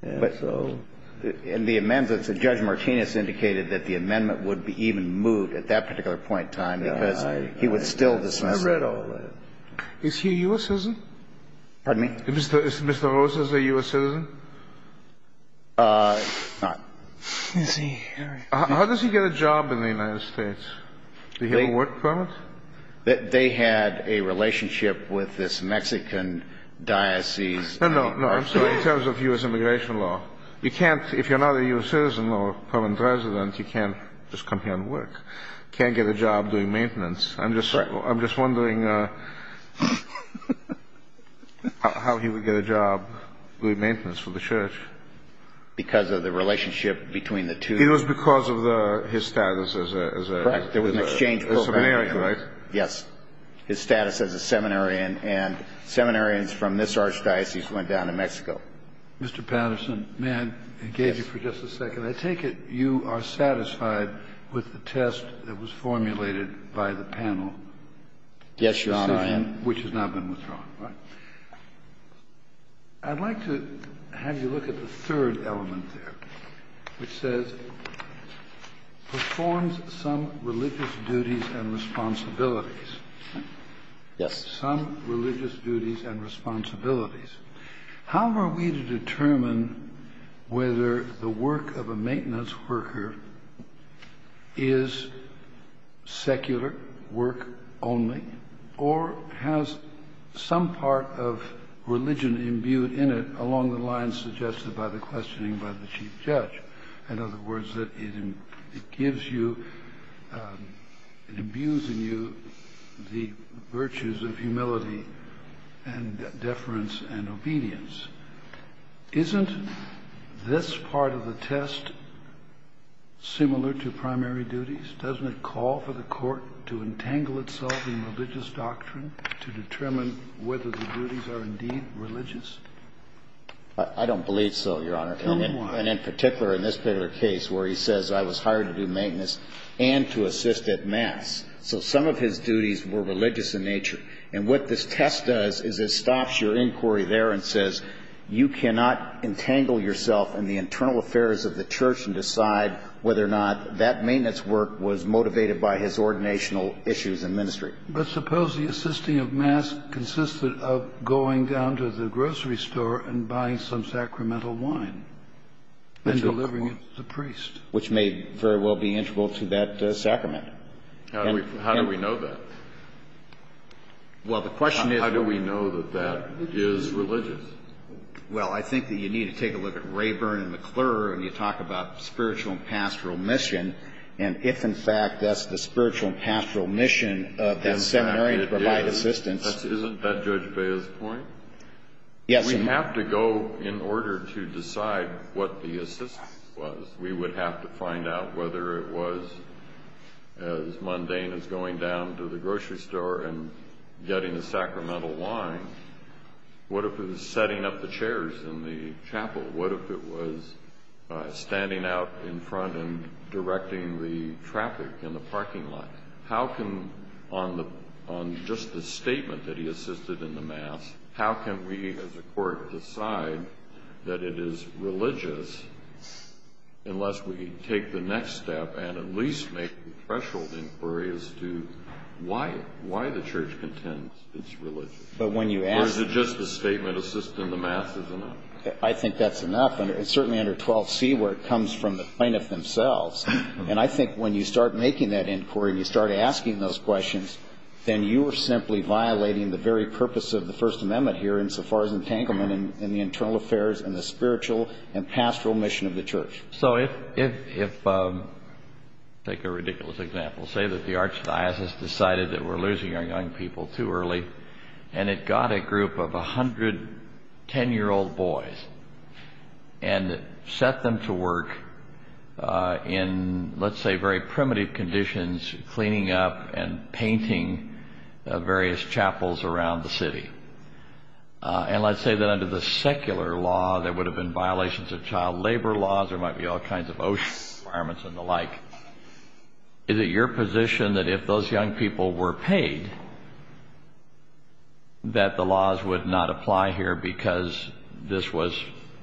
And so the amendments that Judge Martinez indicated that the amendment would be even moved at that particular point in time because he would still dismiss it. I read all that. Is he a U.S. citizen? Pardon me? Is Mr. Rosas a U.S. citizen? Not. Is he? How does he get a job in the United States? Do you have a work permit? They had a relationship with this Mexican diocese. No, no, no. I'm sorry. In terms of U.S. immigration law. You can't, if you're not a U.S. citizen or permanent resident, you can't just come here and work. You can't get a job doing maintenance. I'm just wondering how he would get a job doing maintenance for the church. Because of the relationship between the two. It was because of his status as a seminarian, right? Yes. His status as a seminarian, and seminarians from this archdiocese went down to Mexico. Mr. Patterson, may I engage you for just a second? Yes. I take it you are satisfied with the test that was formulated by the panel? Yes, Your Honor, I am. Which has now been withdrawn, right? I'd like to have you look at the third element there, which says, performs some religious duties and responsibilities. Yes. Some religious duties and responsibilities. How are we to determine whether the work of a maintenance worker is secular work only, or has some part of religion imbued in it along the lines suggested by the questioning by the chief judge? In other words, it gives you, it imbues in you the virtues of humility and deference and obedience. Isn't this part of the test similar to primary duties? Doesn't it call for the court to entangle itself in religious doctrine to determine whether the duties are indeed religious? I don't believe so, Your Honor. Then why? Because the questioner, in this particular case, where he says, I was hired to do maintenance and to assist at mass, so some of his duties were religious in nature. And what this test does is it stops your inquiry there and says, you cannot entangle yourself in the internal affairs of the church and decide whether or not that maintenance work was motivated by his ordinational issues in ministry. But suppose the assisting of mass consisted of going down to the grocery store and buying some sacramental wine and delivering it to the priest. Which may very well be integral to that sacrament. How do we know that? Well, the question is how do we know that that is religious? Well, I think that you need to take a look at Rayburn and McClure, and you talk about spiritual and pastoral mission. And if, in fact, that's the spiritual and pastoral mission of that seminary to provide assistance. Isn't that Judge Bea's point? Yes. We have to go in order to decide what the assistance was. We would have to find out whether it was as mundane as going down to the grocery store and getting the sacramental wine. What if it was setting up the chairs in the chapel? What if it was standing out in front and directing the traffic in the parking lot? How can, on just the statement that he assisted in the mass, how can we as a court decide that it is religious unless we take the next step and at least make the threshold inquiry as to why the church contends it's religious? Or is it just the statement assisting the mass is enough? I think that's enough. And it's certainly under 12C where it comes from the plaintiff themselves. And I think when you start making that inquiry and you start asking those questions, then you are simply violating the very purpose of the First Amendment here insofar as entanglement in the internal affairs and the spiritual and pastoral mission of the church. So if, take a ridiculous example, say that the archdiocese decided that we're losing our young people too early. And it got a group of 110-year-old boys and set them to work in, let's say, very primitive conditions, cleaning up and painting various chapels around the city. And let's say that under the secular law there would have been violations of child labor laws. There might be all kinds of OSHA requirements and the like. Is it your position that if those young people were paid, that the laws would not apply here because this was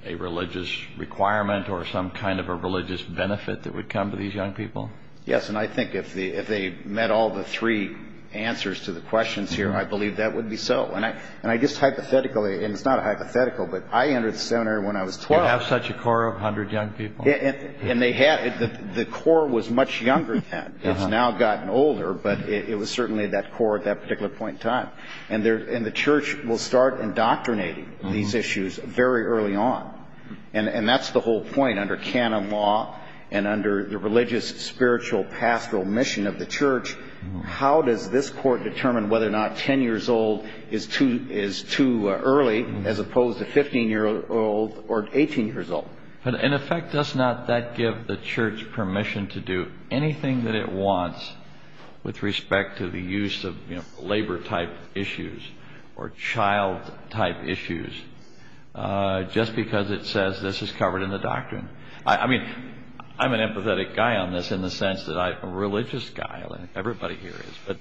a religious requirement or some kind of a religious benefit that would come to these young people? Yes, and I think if they met all the three answers to the questions here, I believe that would be so. And I guess hypothetically, and it's not a hypothetical, but I entered the seminary when I was 12. You have such a core of 100 young people. The core was much younger then. It's now gotten older, but it was certainly that core at that particular point in time. And the church will start indoctrinating these issues very early on. And that's the whole point. Under canon law and under the religious, spiritual, pastoral mission of the church, how does this court determine whether or not 10 years old is too early as opposed to 15-year-old or 18-years-old? In effect, does not that give the church permission to do anything that it wants with respect to the use of labor-type issues or child-type issues just because it says this is covered in the doctrine? I mean, I'm an empathetic guy on this in the sense that I'm a religious guy, and everybody here is. But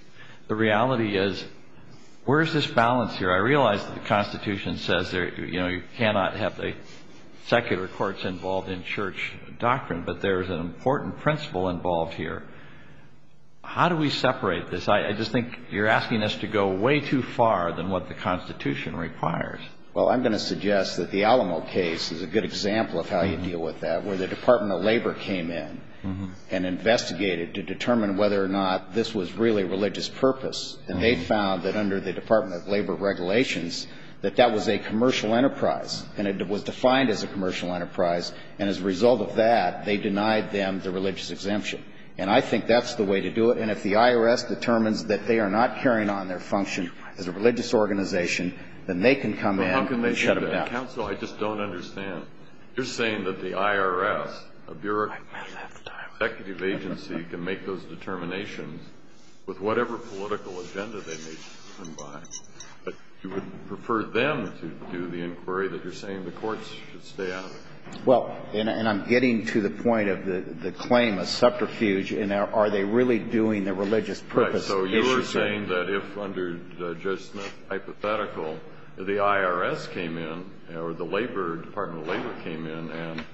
the reality is, where is this balance here? I realize the Constitution says you cannot have secular courts involved in church doctrine, but there is an important principle involved here. How do we separate this? I just think you're asking us to go way too far than what the Constitution requires. Well, I'm going to suggest that the Alamo case is a good example of how you deal with that, where the Department of Labor came in and investigated to determine whether or not this was really religious purpose. And they found that under the Department of Labor regulations that that was a commercial enterprise, and it was defined as a commercial enterprise. And as a result of that, they denied them the religious exemption. And I think that's the way to do it. And if the IRS determines that they are not carrying on their function as a religious organization, then they can come in and shut them down. Well, how can they do that? Counsel, I just don't understand. You're saying that the IRS, a bureaucratic executive agency, can make those determinations with whatever political agenda they may come by. But you would prefer them to do the inquiry that you're saying the courts should stay out of? Well, and I'm getting to the point of the claim of subterfuge, and are they really doing the religious purpose issue? Right. So you are saying that if, under Judge Smith's hypothetical, the IRS came in or the Labor came in and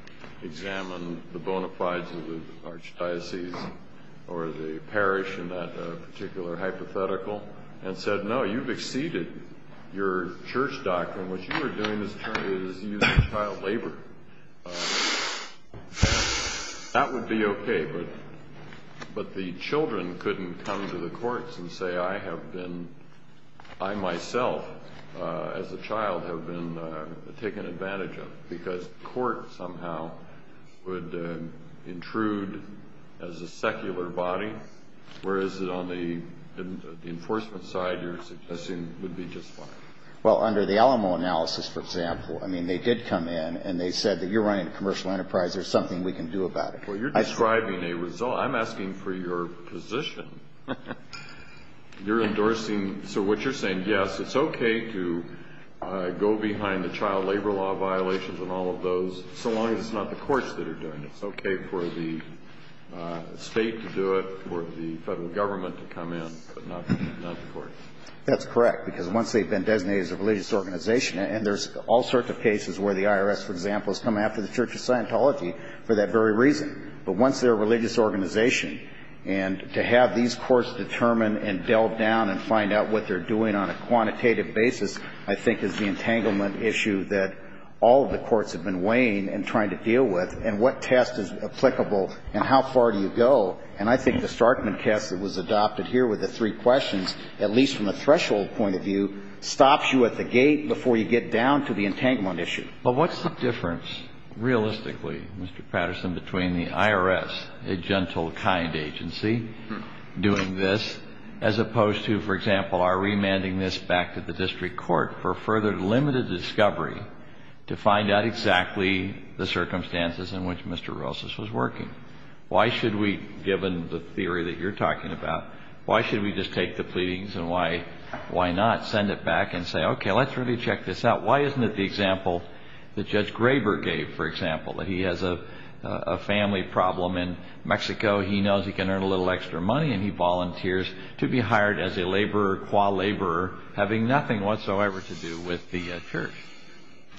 examined the bona fides of the archdiocese or the parish in that particular hypothetical and said, no, you've exceeded your church doctrine. What you are doing is using child labor. That would be okay. But the children couldn't come to the courts and say, I have been, I myself as a child have been taken advantage of, because the court somehow would intrude as a secular body, whereas on the enforcement side you're suggesting would be just fine. Well, under the Alamo analysis, for example, I mean, they did come in and they said that you're running a commercial enterprise. There's something we can do about it. Well, you're describing a result. I'm asking for your position. You're endorsing. So what you're saying, yes, it's okay to go behind the child labor law violations and all of those, so long as it's not the courts that are doing it. It's okay for the state to do it, for the federal government to come in, but not the courts. That's correct, because once they've been designated as a religious organization, and there's all sorts of cases where the IRS, for example, has come after the Church of Scientology for that very reason. But once they're a religious organization, and to have these courts determine and delve down and find out what they're doing on a quantitative basis, I think is the entanglement issue that all of the courts have been weighing and trying to deal with, and what test is applicable and how far do you go. And I think the Starkman test that was adopted here with the three questions, at least from a threshold point of view, stops you at the gate before you get down to the entanglement issue. But what's the difference, realistically, Mr. Patterson, between the IRS, a gentle, kind agency doing this, as opposed to, for example, our remanding this back to the district court for further limited discovery to find out exactly the circumstances in which Mr. Rosas was working? Why should we, given the theory that you're talking about, why should we just take the pleadings and why not send it back and say, okay, let's really check this out? Why isn't it the example that Judge Graber gave, for example, that he has a family problem in Mexico. He knows he can earn a little extra money, and he volunteers to be hired as a laborer, qua laborer, having nothing whatsoever to do with the church.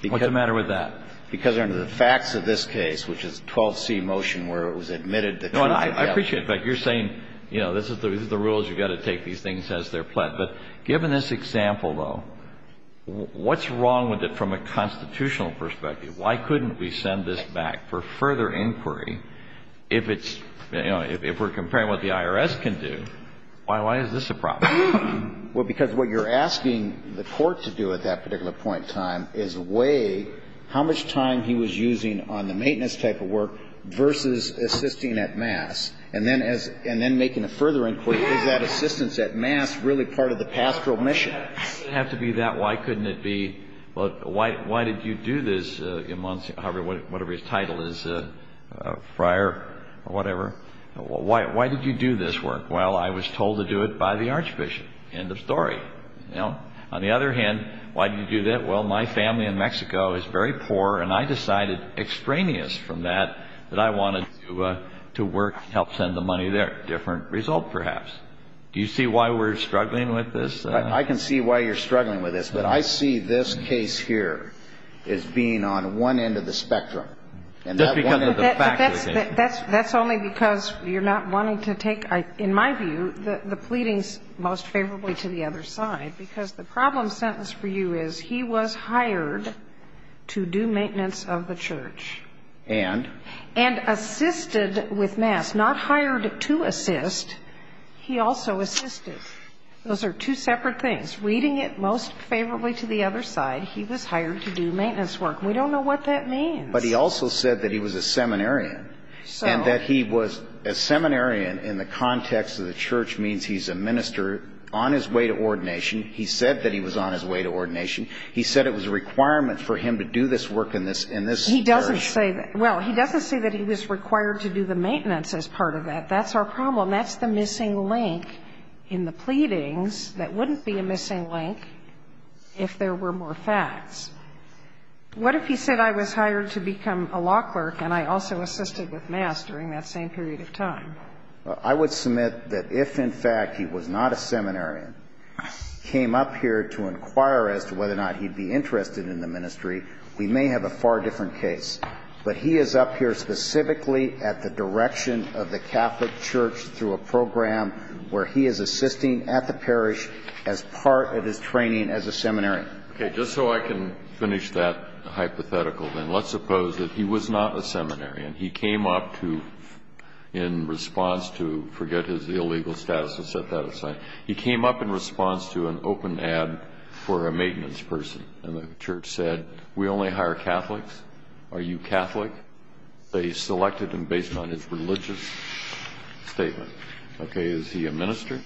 What's the matter with that? Because under the facts of this case, which is 12C motion, where it was admitted that the court would have to... No, and I appreciate it, but you're saying, you know, this is the rules, you've got to take these things as they're pled. But given this example, though, what's wrong with it from a constitutional perspective? Why couldn't we send this back for further inquiry if it's, you know, if we're comparing what the IRS can do? Why is this a problem? Well, because what you're asking the court to do at that particular point in time is weigh how much time he was using on the maintenance type of work versus assisting at mass. And then making a further inquiry, is that assistance at mass really part of the pastoral mission? It doesn't have to be that. Why couldn't it be, well, why did you do this, whatever his title is, a friar or whatever? Why did you do this work? Well, I was told to do it by the archbishop. End of story. You know? On the other hand, why did you do that? Well, my family in Mexico is very poor, and I decided extraneous from that that I wanted to work, help send the money there. Different result, perhaps. Do you see why we're struggling with this? I can see why you're struggling with this. But I see this case here as being on one end of the spectrum. And that one end of the spectrum. But that's only because you're not wanting to take, in my view, the pleadings most favorably to the other side. Because the problem sentence for you is he was hired to do maintenance of the church. And? And assisted with mass. Not hired to assist. He also assisted. Those are two separate things. Reading it most favorably to the other side, he was hired to do maintenance work. We don't know what that means. But he also said that he was a seminarian. And that he was a seminarian in the context of the church means he's a minister on his way to ordination. He said that he was on his way to ordination. He said it was a requirement for him to do this work in this church. He doesn't say that. Well, he doesn't say that he was required to do the maintenance as part of that. That's our problem. That's the missing link in the pleadings that wouldn't be a missing link if there were more facts. What if he said I was hired to become a law clerk and I also assisted with mass during that same period of time? I would submit that if, in fact, he was not a seminarian, came up here to inquire as to whether or not he'd be interested in the ministry, we may have a far different case. But he is up here specifically at the direction of the Catholic Church through a program where he is assisting at the parish as part of his training as a seminarian. Okay. Just so I can finish that hypothetical, then, let's suppose that he was not a seminarian. He came up to, in response to, forget his illegal status to set that aside, he came up in response to an open ad for a maintenance person. And the church said, we only hire Catholics. Are you Catholic? They selected him based on his religious statement. Okay. Is he a minister?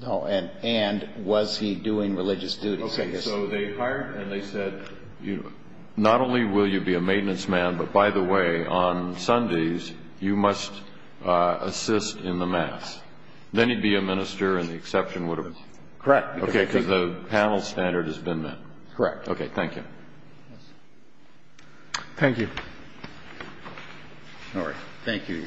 No. And was he doing religious duties? Okay. So they hired him and they said, not only will you be a maintenance man, but, by the way, on Sundays you must assist in the mass. Then he'd be a minister and the exception would have been? Correct. Okay, because the panel standard has been met. Correct. Okay. Thank you. Thank you. All right. Thank you.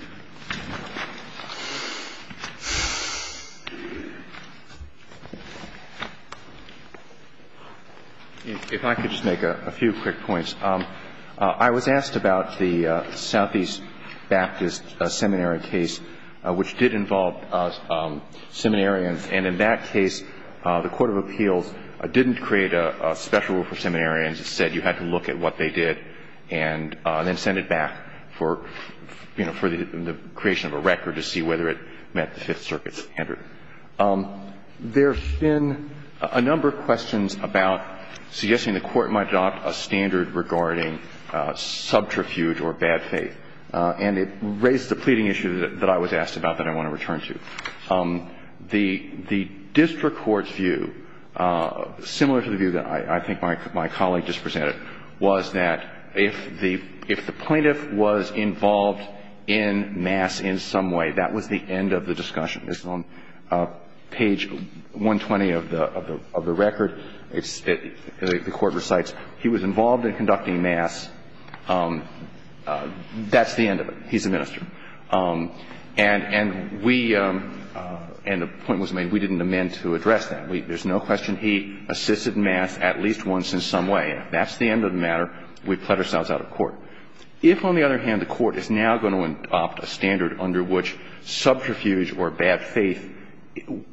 If I could just make a few quick points. I was asked about the Southeast Baptist seminary case, which did involve seminarians. And in that case, the court of appeals didn't create a special rule for seminarians. It said you had to look at what they did and then send it back for, you know, for the creation of a record to see whether it met the Fifth Circuit standard. There have been a number of questions about suggesting the court might adopt a standard regarding subterfuge or bad faith. And it raised the pleading issue that I was asked about that I want to return to. The district court's view, similar to the view that I think my colleague just presented, was that if the plaintiff was involved in mass in some way, that was the end of the discussion. This is on page 120 of the record. The court recites, he was involved in conducting mass. That's the end of it. He's a minister. And we – and the point was made, we didn't amend to address that. There's no question he assisted mass at least once in some way. That's the end of the matter. We've cut ourselves out of court. If, on the other hand, the court is now going to adopt a standard under which subterfuge or bad faith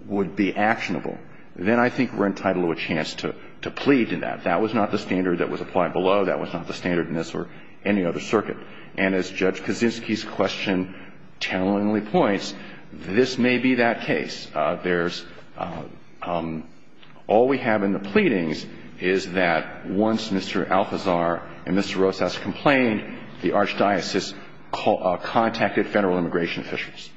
would be actionable, then I think we're entitled to a chance to plead in that. That was not the standard that was applied below. That was not the standard in this or any other circuit. And as Judge Kaczynski's question tellingly points, this may be that case. There's – all we have in the pleadings is that once Mr. Alcazar and Mr. Rosas complained, the archdiocese contacted Federal immigration officials.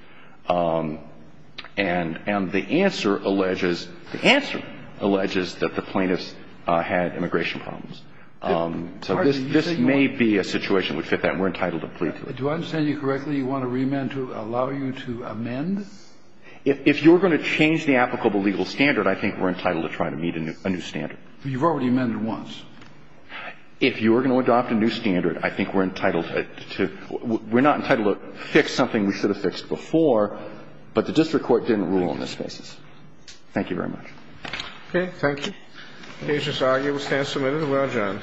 And the answer alleges – the answer alleges that the plaintiffs had immigration problems. So this may be a situation that would fit that. We're entitled to plead to it. Do I understand you correctly? You want to remand to allow you to amend? If you're going to change the applicable legal standard, I think we're entitled to try to meet a new standard. You've already amended once. If you're going to adopt a new standard, I think we're entitled to – we're not entitled to fix something we should have fixed before, but the district court didn't rule on this basis. Thank you very much. Okay. Thank you. The case is argued. We stand submitted. We are adjourned. All rise.